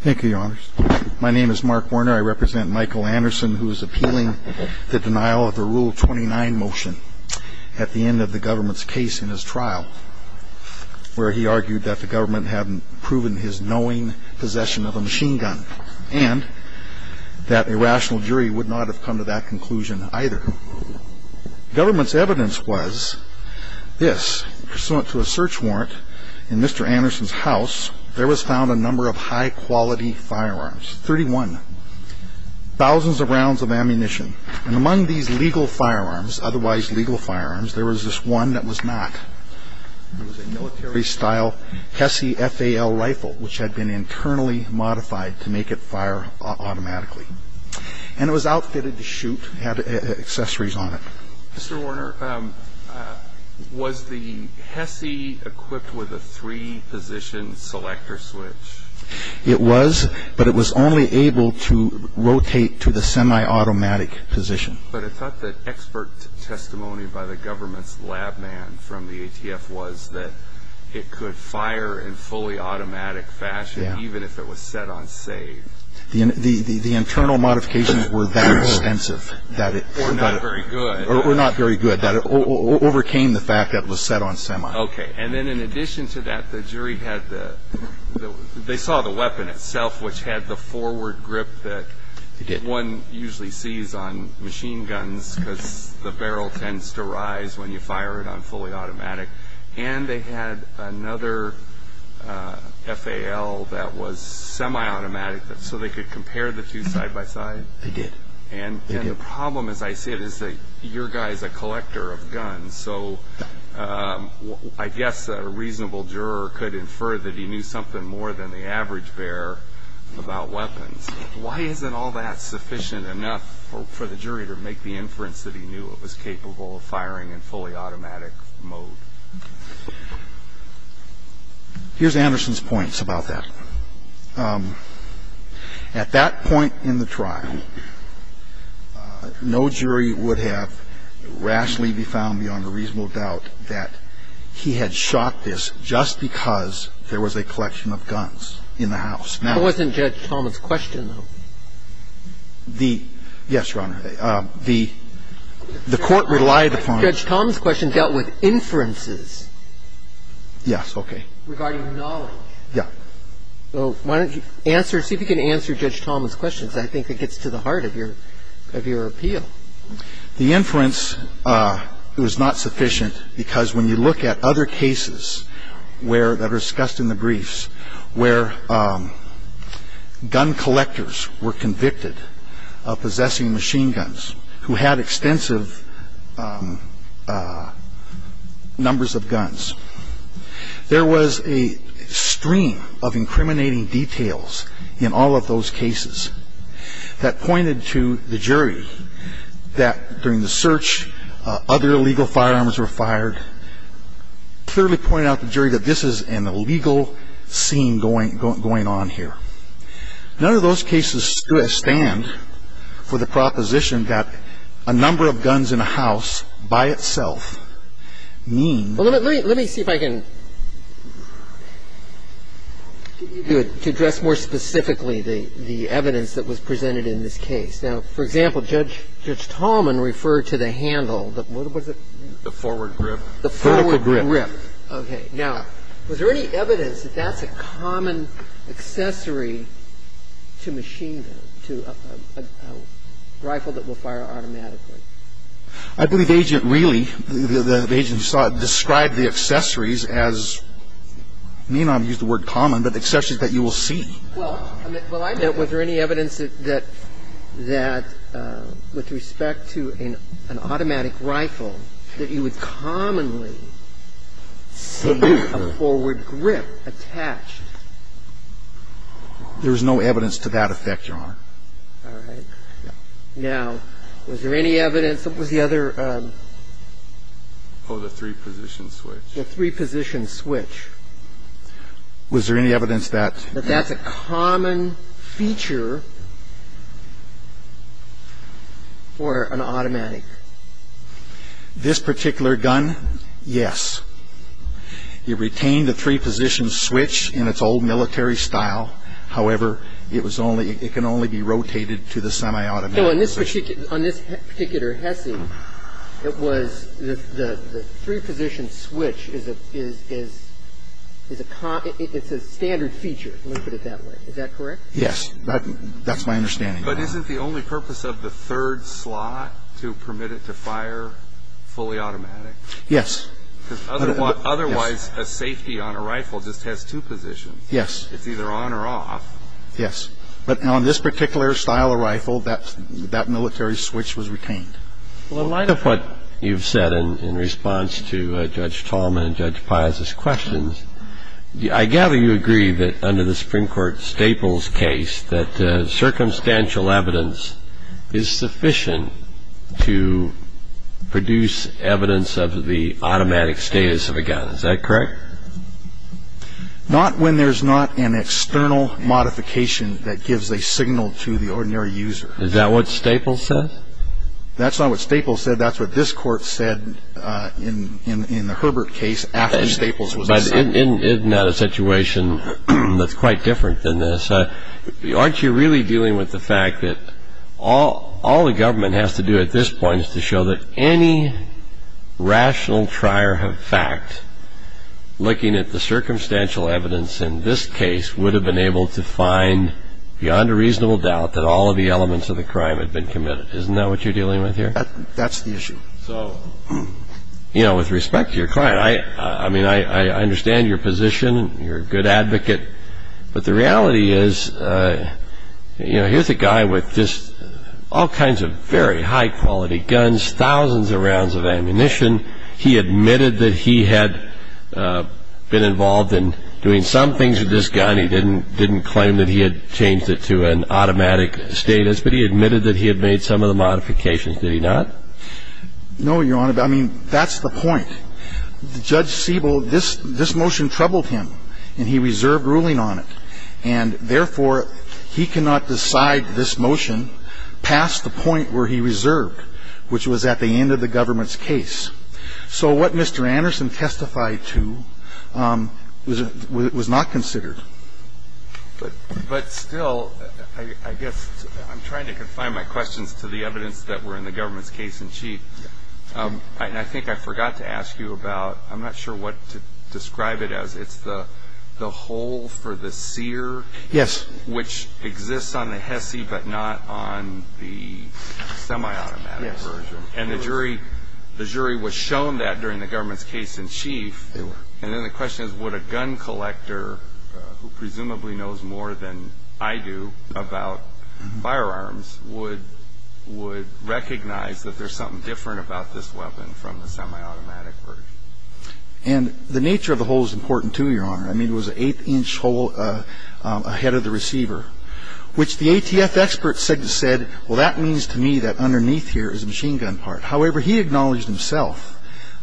Thank you, your honors. My name is Mark Warner. I represent Michael Anderson, who is appealing the denial of the Rule 29 motion at the end of the government's case in his trial, where he argued that the government hadn't proven his knowing possession of a machine gun and that a rational jury would not have come to that conclusion either. The government's evidence was this. Pursuant to a search warrant in Mr. Anderson's house, there was found a number of high-quality firearms, 31, thousands of rounds of ammunition, and among these legal firearms, otherwise legal firearms, there was this one that was not. It was a military-style HESI FAL rifle, which had been internally modified to make it fire automatically. And it was outfitted to shoot, had accessories on it. Mr. Warner, was the HESI equipped with a three-position selector switch? It was, but it was only able to rotate to the semi-automatic position. But I thought that expert testimony by the government's lab man from the ATF was that it could fire in fully automatic fashion, even if it was set on safe. The internal modifications were that extensive. Or not very good. Or not very good. It overcame the fact that it was set on semi. Okay. And then in addition to that, the jury saw the weapon itself, which had the forward grip that one usually sees on machine guns, because the barrel tends to rise when you fire it on fully automatic. And they had another FAL that was semi-automatic, so they could compare the two side by side? They did. And the problem, as I said, is that your guy is a collector of guns, so I guess a reasonable juror could infer that he knew something more than the average bearer about weapons. Why isn't all that sufficient enough for the jury to make the inference that he knew it was capable of firing in fully automatic mode? Here's Anderson's points about that. At that point in the trial, no jury would have rashly be found beyond a reasonable doubt that he had shot this just because there was a collection of guns in the house. That wasn't Judge Thomas' question, though. The – yes, Your Honor. The court relied upon – Judge Thomas' question dealt with inferences. Yes. Okay. Regarding knowledge. Yeah. Well, why don't you answer – see if you can answer Judge Thomas' questions. I think it gets to the heart of your – of your appeal. The inference was not sufficient because when you look at other cases where – that are discussed in the briefs where gun collectors were convicted of possessing machine guns, who had extensive numbers of guns, there was a stream of incriminating details in all of those cases that pointed to the jury that during the search, other illegal firearms were fired, clearly pointed out to the jury that this is an illegal scene going on here. None of those cases stand for the proposition that a number of guns in a house by itself means – Well, let me see if I can – to address more specifically the evidence that was presented in this case. Now, for example, Judge – Judge Tallman referred to the handle. What was it? The forward grip. The forward grip. Vertical grip. Okay. Now, was there any evidence that that's a common accessory to machine guns, to a rifle that will fire automatically? I believe Agent Reilly, the agent who saw it, described the accessories as – me and I have used the word common, but accessories that you will see. Well, I mean, was there any evidence that – that with respect to an automatic rifle that you would commonly see a forward grip attached? There is no evidence to that effect, Your Honor. All right. Now, was there any evidence – what was the other – Oh, the three-position switch. The three-position switch. Was there any evidence that – that that's a common feature for an automatic? This particular gun, yes. It retained the three-position switch in its old military style. However, it was only – it can only be rotated to the semi-automatic position. On this particular Hesse, it was – the three-position switch is a – it's a standard feature. Let me put it that way. Is that correct? Yes. That's my understanding. But isn't the only purpose of the third slot to permit it to fire fully automatic? Yes. Because otherwise a safety on a rifle just has two positions. Yes. It's either on or off. Yes. But on this particular style of rifle, that military switch was retained. Well, in light of what you've said in response to Judge Tallman and Judge Pius' questions, I gather you agree that under the Supreme Court Staples case that circumstantial evidence is sufficient to produce evidence of the automatic status of a gun. Is that correct? Not when there's not an external modification that gives a signal to the ordinary user. Is that what Staples said? That's not what Staples said. That's what this Court said in the Herbert case after Staples was assigned. But isn't that a situation that's quite different than this? Aren't you really dealing with the fact that all the government has to do at this point is to show that any rational trier of fact looking at the circumstantial evidence in this case would have been able to find beyond a reasonable doubt that all of the elements of the crime had been committed. Isn't that what you're dealing with here? That's the issue. So, you know, with respect to your client, I mean, I understand your position. You're a good advocate. But the reality is, you know, here's a guy with just all kinds of very high-quality guns, thousands of rounds of ammunition. He admitted that he had been involved in doing some things with this gun. He didn't claim that he had changed it to an automatic status, but he admitted that he had made some of the modifications, did he not? No, Your Honor. I mean, that's the point. Judge Siebel, this motion troubled him, and he reserved ruling on it. And, therefore, he cannot decide this motion past the point where he reserved, which was at the end of the government's case. So what Mr. Anderson testified to was not considered. But still, I guess I'm trying to confine my questions to the evidence that were in the government's case in chief. And I think I forgot to ask you about, I'm not sure what to describe it as. It's the hole for the sear? Yes. Which exists on the HESI but not on the semi-automatic version. Yes. And the jury was shown that during the government's case in chief. They were. And then the question is, would a gun collector, who presumably knows more than I do about firearms, would recognize that there's something different about this weapon from the semi-automatic version? And the nature of the hole is important, too, Your Honor. I mean, it was an eighth-inch hole ahead of the receiver. Which the ATF expert said, well, that means to me that underneath here is a machine gun part. However, he acknowledged himself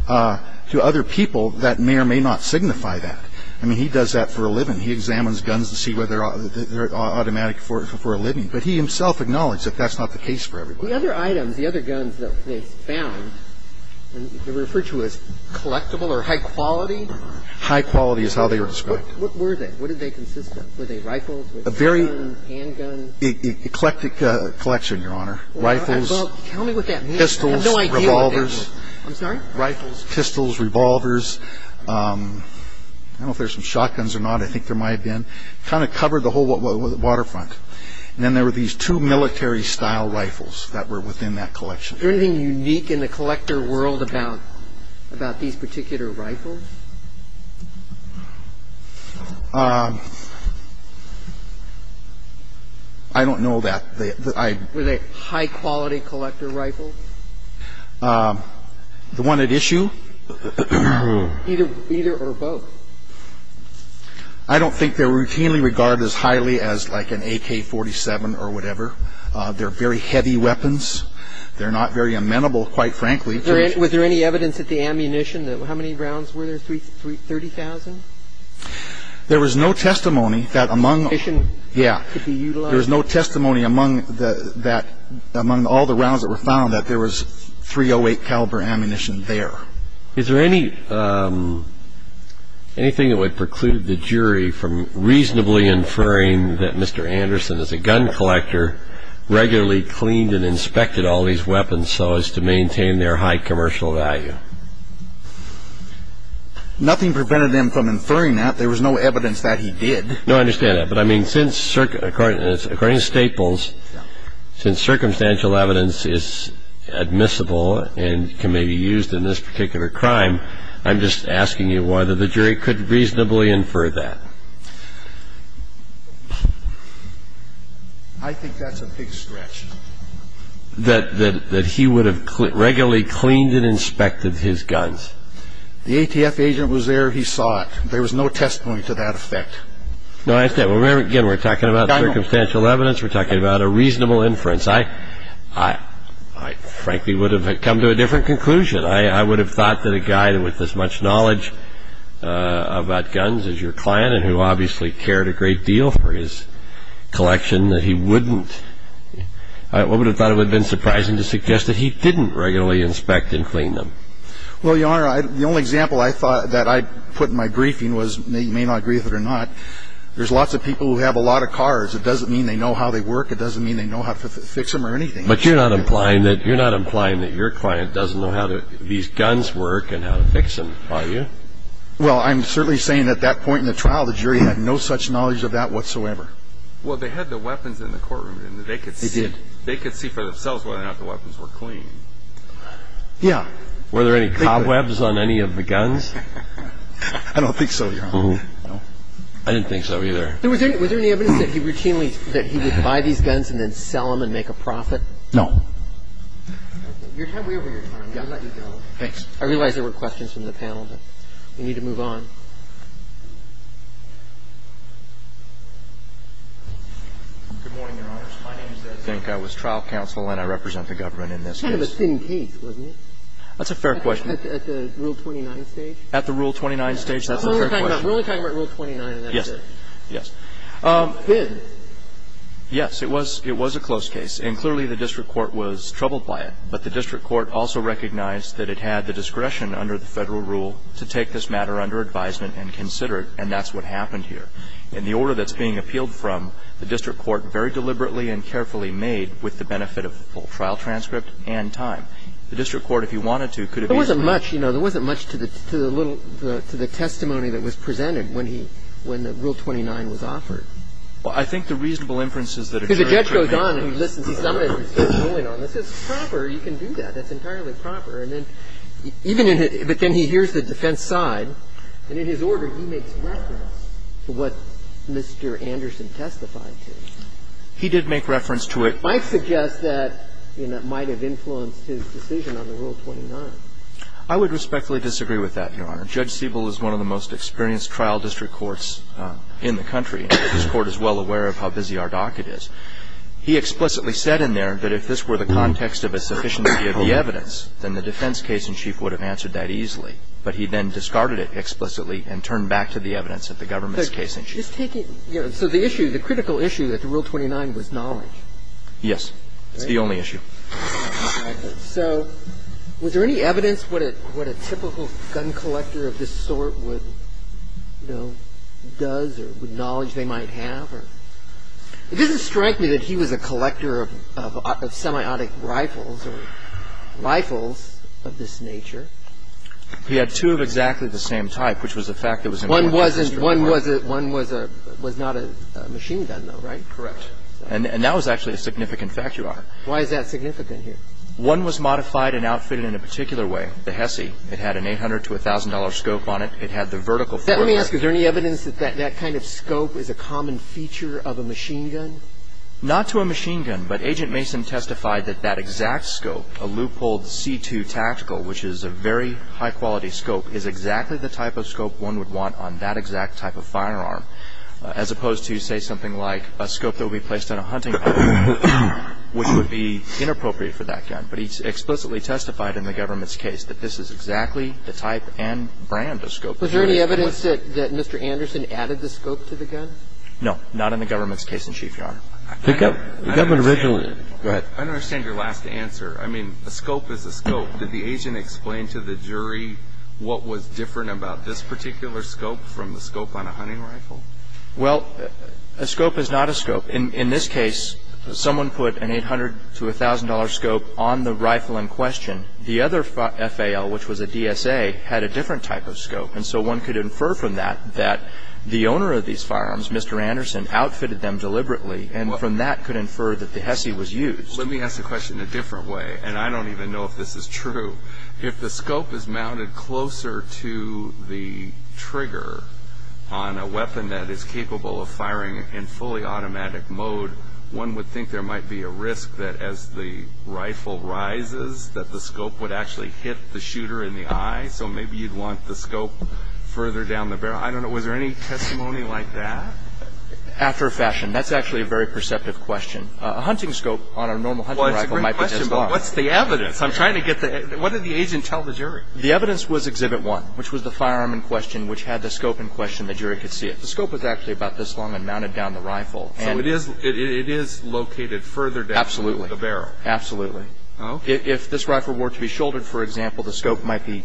to other people that may or may not signify that. I mean, he does that for a living. He examines guns to see whether they're automatic for a living. But he himself acknowledged that that's not the case for everybody. The other items, the other guns that they found, they were referred to as collectible or high quality? High quality is how they were described. What were they? What did they consist of? Were they rifles, handguns? Eclectic collection, Your Honor. Rifles, pistols, revolvers. I'm sorry? Rifles, pistols, revolvers. I don't know if there's some shotguns or not. I think there might have been. Kind of covered the whole waterfront. And then there were these two military style rifles that were within that collection. Is there anything unique in the collector world about these particular rifles? I don't know that. Were they high quality collector rifles? The one at issue? Either or both. I don't think they're routinely regarded as highly as like an AK-47 or whatever. They're very heavy weapons. They're not very amenable, quite frankly. Was there any evidence at the ammunition? How many rounds were there, 30,000? There was no testimony that among. Yeah. There was no testimony among all the rounds that were found that there was .308 caliber ammunition there. Is there anything that would preclude the jury from reasonably inferring that Mr. Anderson, as a gun collector, regularly cleaned and inspected all these weapons so as to maintain their high commercial value? Nothing prevented him from inferring that. There was no evidence that he did. No, I understand that. But, I mean, according to Staples, since circumstantial evidence is admissible and can maybe be used in this particular crime, I'm just asking you whether the jury could reasonably infer that. I think that's a big stretch. That he would have regularly cleaned and inspected his guns. The ATF agent was there. He saw it. There was no testimony to that effect. No, I understand. Again, we're talking about circumstantial evidence. We're talking about a reasonable inference. I frankly would have come to a different conclusion. I would have thought that a guy with as much knowledge about guns as your client and who obviously cared a great deal for his collection, that he wouldn't. I would have thought it would have been surprising to suggest that he didn't regularly inspect and clean them. Well, Your Honor, the only example I thought that I'd put in my briefing was, you may not agree with it or not, there's lots of people who have a lot of cars. It doesn't mean they know how they work. It doesn't mean they know how to fix them or anything. But you're not implying that your client doesn't know how these guns work and how to fix them, are you? Well, I'm certainly saying at that point in the trial, the jury had no such knowledge of that whatsoever. Well, they had the weapons in the courtroom. They could see for themselves whether or not the weapons were clean. Yeah. Were there any cobwebs on any of the guns? I don't think so, Your Honor. I didn't think so either. Was there any evidence that he routinely – that he would buy these guns and then sell them and make a profit? No. Okay. You're way over your time. I'm going to let you go. Thanks. I realize there were questions from the panel, but we need to move on. Good morning, Your Honors. My name is Ed Zink. I was trial counsel and I represent the government in this case. Kind of a thin case, wasn't it? That's a fair question. At the Rule 29 stage? At the Rule 29 stage, that's a fair question. We're only talking about Rule 29 and that's it. Yes. Yes. Yes, it was a close case. And clearly the district court was troubled by it. But the district court also recognized that it had the discretion under the Federal rule to take this matter under advisement and consider it, and that's what happened here. In the order that's being appealed from, the district court very deliberately and carefully made, with the benefit of full trial transcript and time, the district court, if he wanted to, could have easily – There wasn't much, you know. Well, I think the reasonable inferences that a jury can make – Because the judge goes on and he listens. He says, I'm going to insist on this. It's proper. You can do that. That's entirely proper. And then even in his – but then he hears the defense side. And in his order, he makes reference to what Mr. Anderson testified to. He did make reference to it. I suggest that, you know, it might have influenced his decision on the Rule 29. I would respectfully disagree with that, Your Honor. Judge Siebel is one of the most experienced trial district courts in the country. His court is well aware of how busy our docket is. He explicitly said in there that if this were the context of a sufficiency of the evidence, then the defense case-in-chief would have answered that easily. But he then discarded it explicitly and turned back to the evidence of the government's case-in-chief. So the issue, the critical issue at the Rule 29 was knowledge. Yes. It's the only issue. So was there any evidence what a typical gun collector of this sort would, you know, does or what knowledge they might have? It doesn't strike me that he was a collector of semiotic rifles or rifles of this nature. He had two of exactly the same type, which was a fact that was important. One was not a machine gun, though, right? Correct. And that was actually a significant fact, Your Honor. Why is that significant here? One was modified and outfitted in a particular way, the Hesse. It had an $800 to $1,000 scope on it. It had the vertical foregrip. Let me ask, is there any evidence that that kind of scope is a common feature of a machine gun? Not to a machine gun, but Agent Mason testified that that exact scope, a Leupold C2 tactical, which is a very high-quality scope, is exactly the type of scope one would want on that exact type of firearm, as opposed to, say, something like a scope that would be placed on a hunting rifle, which would be inappropriate for that gun. But he explicitly testified in the government's case that this is exactly the type and brand of scope that he was going to use. Was there any evidence that Mr. Anderson added the scope to the gun? No, not in the government's case in Chief, Your Honor. The government originally. Go ahead. I don't understand your last answer. I mean, a scope is a scope. Did the agent explain to the jury what was different about this particular scope from the scope on a hunting rifle? Well, a scope is not a scope. In this case, someone put an $800 to $1,000 scope on the rifle in question. The other FAL, which was a DSA, had a different type of scope, and so one could infer from that that the owner of these firearms, Mr. Anderson, outfitted them deliberately, and from that could infer that the HESI was used. Let me ask the question a different way, and I don't even know if this is true. If the scope is mounted closer to the trigger on a weapon that is capable of firing in fully automatic mode, one would think there might be a risk that as the rifle rises that the scope would actually hit the shooter in the eye, so maybe you'd want the scope further down the barrel. I don't know. Was there any testimony like that? After a fashion. That's actually a very perceptive question. A hunting scope on a normal hunting rifle might be this long. Well, it's a great question, but what's the evidence? I'm trying to get the – what did the agent tell the jury? The evidence was Exhibit 1, which was the firearm in question, which had the scope in question. The jury could see it. The scope was actually about this long and mounted down the rifle. So it is located further down the barrel. Absolutely. Absolutely. If this rifle were to be shouldered, for example, the scope might be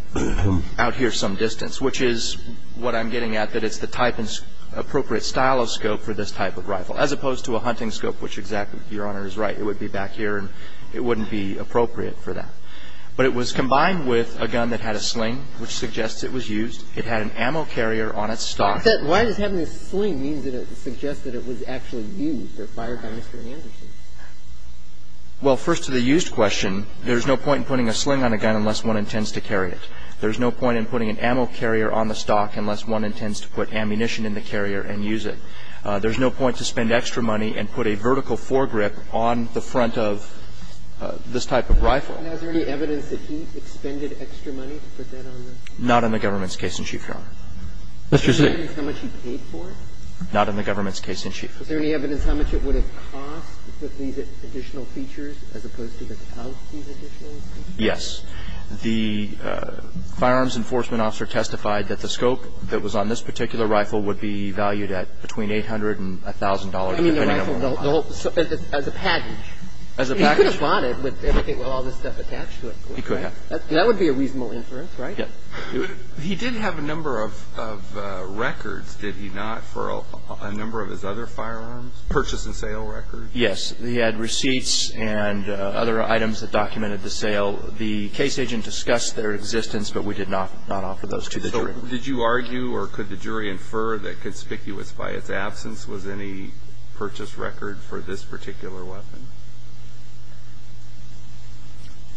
out here some distance, which is what I'm getting at, that it's the type and appropriate style of scope for this type of rifle, as opposed to a hunting scope, which exactly, Your Honor, is right. It would be back here and it wouldn't be appropriate for that. But it was combined with a gun that had a sling, which suggests it was used. It had an ammo carrier on its stock. Why does having a sling mean that it suggests that it was actually used or fired by Mr. Anderson? Well, first to the used question, there's no point in putting a sling on a gun unless one intends to carry it. There's no point in putting an ammo carrier on the stock unless one intends to put ammunition in the carrier and use it. There's no point to spend extra money and put a vertical foregrip on the front of this type of rifle. And is there any evidence that he expended extra money to put that on the rifle? Not in the government's case in chief, Your Honor. Mr. Chief. Is there any evidence how much he paid for it? Not in the government's case in chief. Is there any evidence how much it would have cost with these additional features as opposed to without these additional features? Yes. The firearms enforcement officer testified that the scope that was on this particular rifle would be valued at between $800 and $1,000 depending on the model. I mean, the rifle, the whole as a package. As a package. He could have bought it with all this stuff attached to it. He could have. That would be a reasonable inference, right? Yes. He did have a number of records, did he not, for a number of his other firearms, purchase and sale records? Yes. He had receipts and other items that documented the sale. The case agent discussed their existence, but we did not offer those to the jury. So did you argue or could the jury infer that, conspicuous by its absence, was any purchase record for this particular weapon?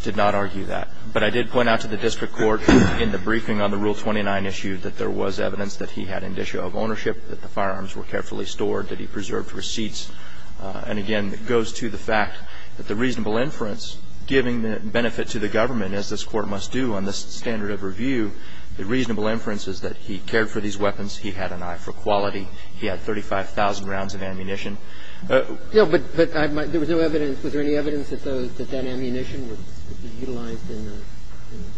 Did not argue that. But I did point out to the district court in the briefing on the Rule 29 issue that there was evidence that he had indicia of ownership, that the firearms were carefully stored, that he preserved receipts. And, again, it goes to the fact that the reasonable inference, giving the benefit to the government, as this Court must do on this standard of review, the reasonable inference is that he cared for these weapons. He had an eye for quality. He had 35,000 rounds of ammunition. No, but there was no evidence. Was there any evidence that that ammunition would be utilized in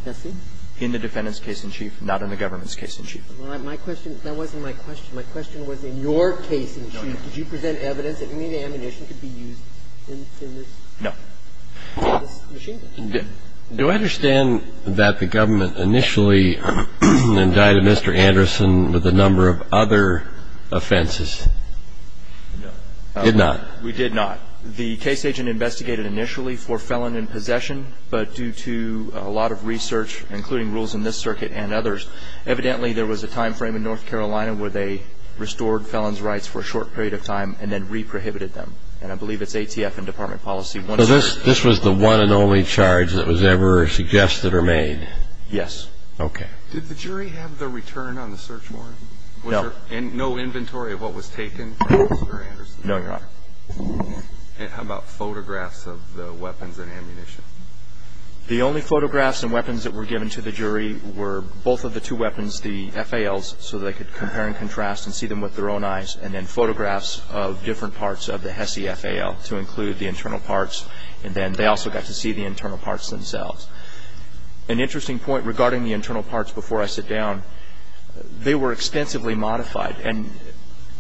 testing? In the defendant's case in chief, not in the government's case in chief. My question, that wasn't my question. My question was, in your case in chief, did you present evidence that any ammunition could be used in this machine gun? No. Do I understand that the government initially indicted Mr. Anderson with a number of other offenses? No. Did not? We did not. The case agent investigated initially for felon in possession, but due to a lot of research, including rules in this circuit and others, evidently there was a time frame in North Carolina where they restored felons' rights for a short period of time and then re-prohibited them. And I believe it's ATF and Department of Policy. So this was the one and only charge that was ever suggested or made? Yes. Okay. Did the jury have the return on the search warrant? No. And no inventory of what was taken from Mr. Anderson? No, Your Honor. And how about photographs of the weapons and ammunition? The only photographs and weapons that were given to the jury were both of the two weapons, the FALs, so they could compare and contrast and see them with their own eyes, and then photographs of different parts of the HESI FAL to include the internal parts. And then they also got to see the internal parts themselves. An interesting point regarding the internal parts before I sit down, they were extensively modified, and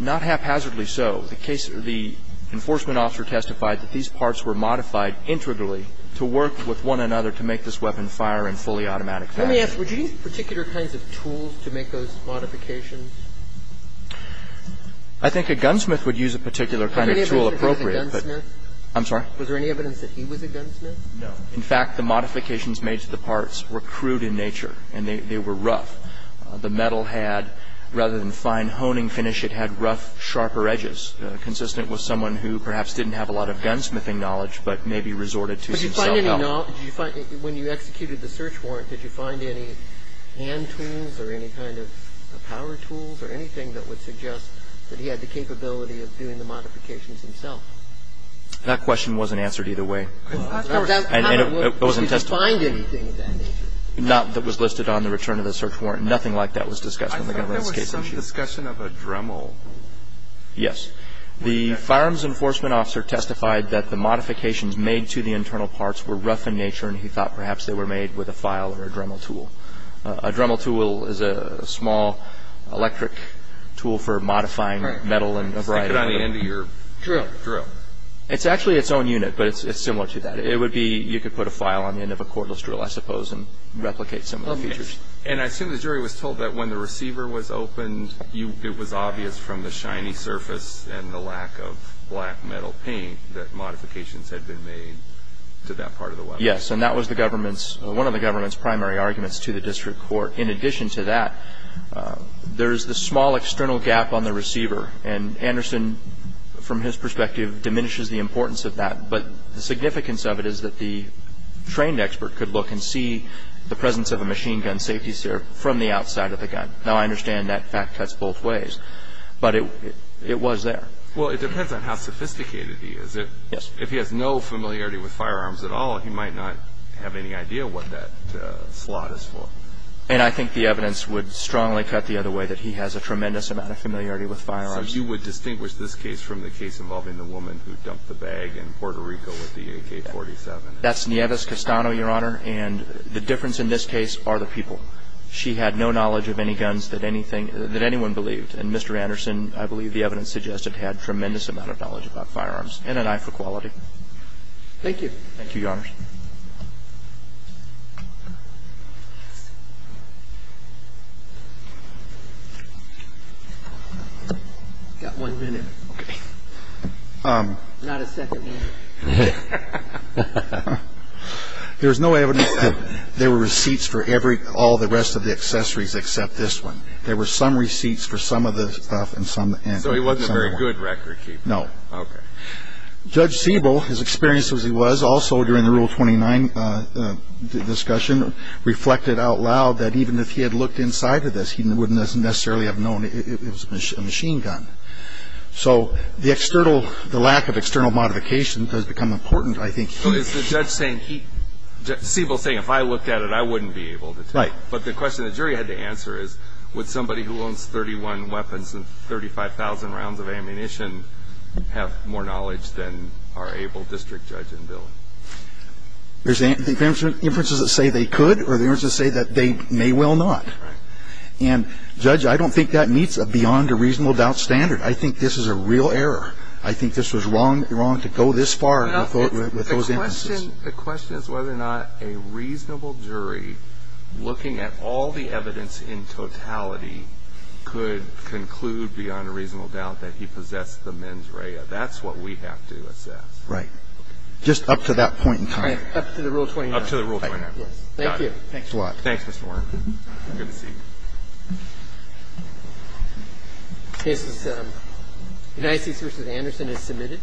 not haphazardly so. The case or the enforcement officer testified that these parts were modified integrally to work with one another to make this weapon fire in fully automatic fashion. Let me ask, would you use particular kinds of tools to make those modifications? I think a gunsmith would use a particular kind of tool appropriate. Was there anybody who was a gunsmith? I'm sorry? Was there any evidence that he was a gunsmith? No. In fact, the modifications made to the parts were crude in nature, and they were rough. The metal had, rather than fine honing finish, it had rough, sharper edges, consistent with someone who perhaps didn't have a lot of gunsmithing knowledge but maybe resorted to some self-help. But did you find any, when you executed the search warrant, did you find any hand tools or any kind of power tools or anything that would suggest that he had the capability of doing the modifications himself? That question wasn't answered either way. And it wasn't testified. Did you find anything of that nature? Not that was listed on the return of the search warrant. Nothing like that was discussed in the government's case. I thought there was some discussion of a Dremel. Yes. The firearms enforcement officer testified that the modifications made to the internal parts were rough in nature, and he thought perhaps they were made with a file or a Dremel tool. A Dremel tool is a small electric tool for modifying metal and a variety of other It's actually its own unit, but it's similar to that. It would be you could put a file on the end of a cordless drill, I suppose, and replicate some of the features. And I assume the jury was told that when the receiver was opened, it was obvious from the shiny surface and the lack of black metal paint that modifications had been made to that part of the weapon. Yes. And that was one of the government's primary arguments to the district court. In addition to that, there's the small external gap on the receiver. And Anderson, from his perspective, diminishes the importance of that. But the significance of it is that the trained expert could look and see the presence of a machine gun safety sear from the outside of the gun. Now, I understand that fact cuts both ways, but it was there. Well, it depends on how sophisticated he is. Yes. If he has no familiarity with firearms at all, he might not have any idea what that slot is for. And I think the evidence would strongly cut the other way, that he has a tremendous amount of familiarity with firearms. So you would distinguish this case from the case involving the woman who dumped the bag in Puerto Rico with the AK-47? That's Nieves Castano, Your Honor. And the difference in this case are the people. She had no knowledge of any guns that anyone believed. And Mr. Anderson, I believe the evidence suggests, had tremendous amount of knowledge about firearms and an eye for quality. Thank you. Thank you, Your Honors. I've got one minute. Okay. Not a second one. There was no evidence that there were receipts for all the rest of the accessories except this one. There were some receipts for some of the stuff and some weren't. So he wasn't a very good record keeper? No. Judge Siebel, as experienced as he was, also during the rule of law, rule 29 discussion reflected out loud that even if he had looked inside of this, he wouldn't necessarily have known it was a machine gun. So the lack of external modification has become important, I think. Is the judge saying he – Siebel's saying if I looked at it, I wouldn't be able to tell. Right. But the question the jury had to answer is, would somebody who owns 31 weapons and 35,000 rounds of ammunition have more knowledge than our able district judge and bill? There's inferences that say they could or there's inferences that say they may well not. Right. And, Judge, I don't think that meets a beyond a reasonable doubt standard. I think this is a real error. I think this was wrong to go this far with those inferences. The question is whether or not a reasonable jury, looking at all the evidence in totality, could conclude beyond a reasonable doubt that he possessed the mens rea. That's what we have to assess. Right. Just up to that point in time. Up to the rule 29. Up to the rule 29. Thank you. Thanks a lot. Thanks, Mr. Warner. Good to see you. This is United States v. Anderson. It's submitted.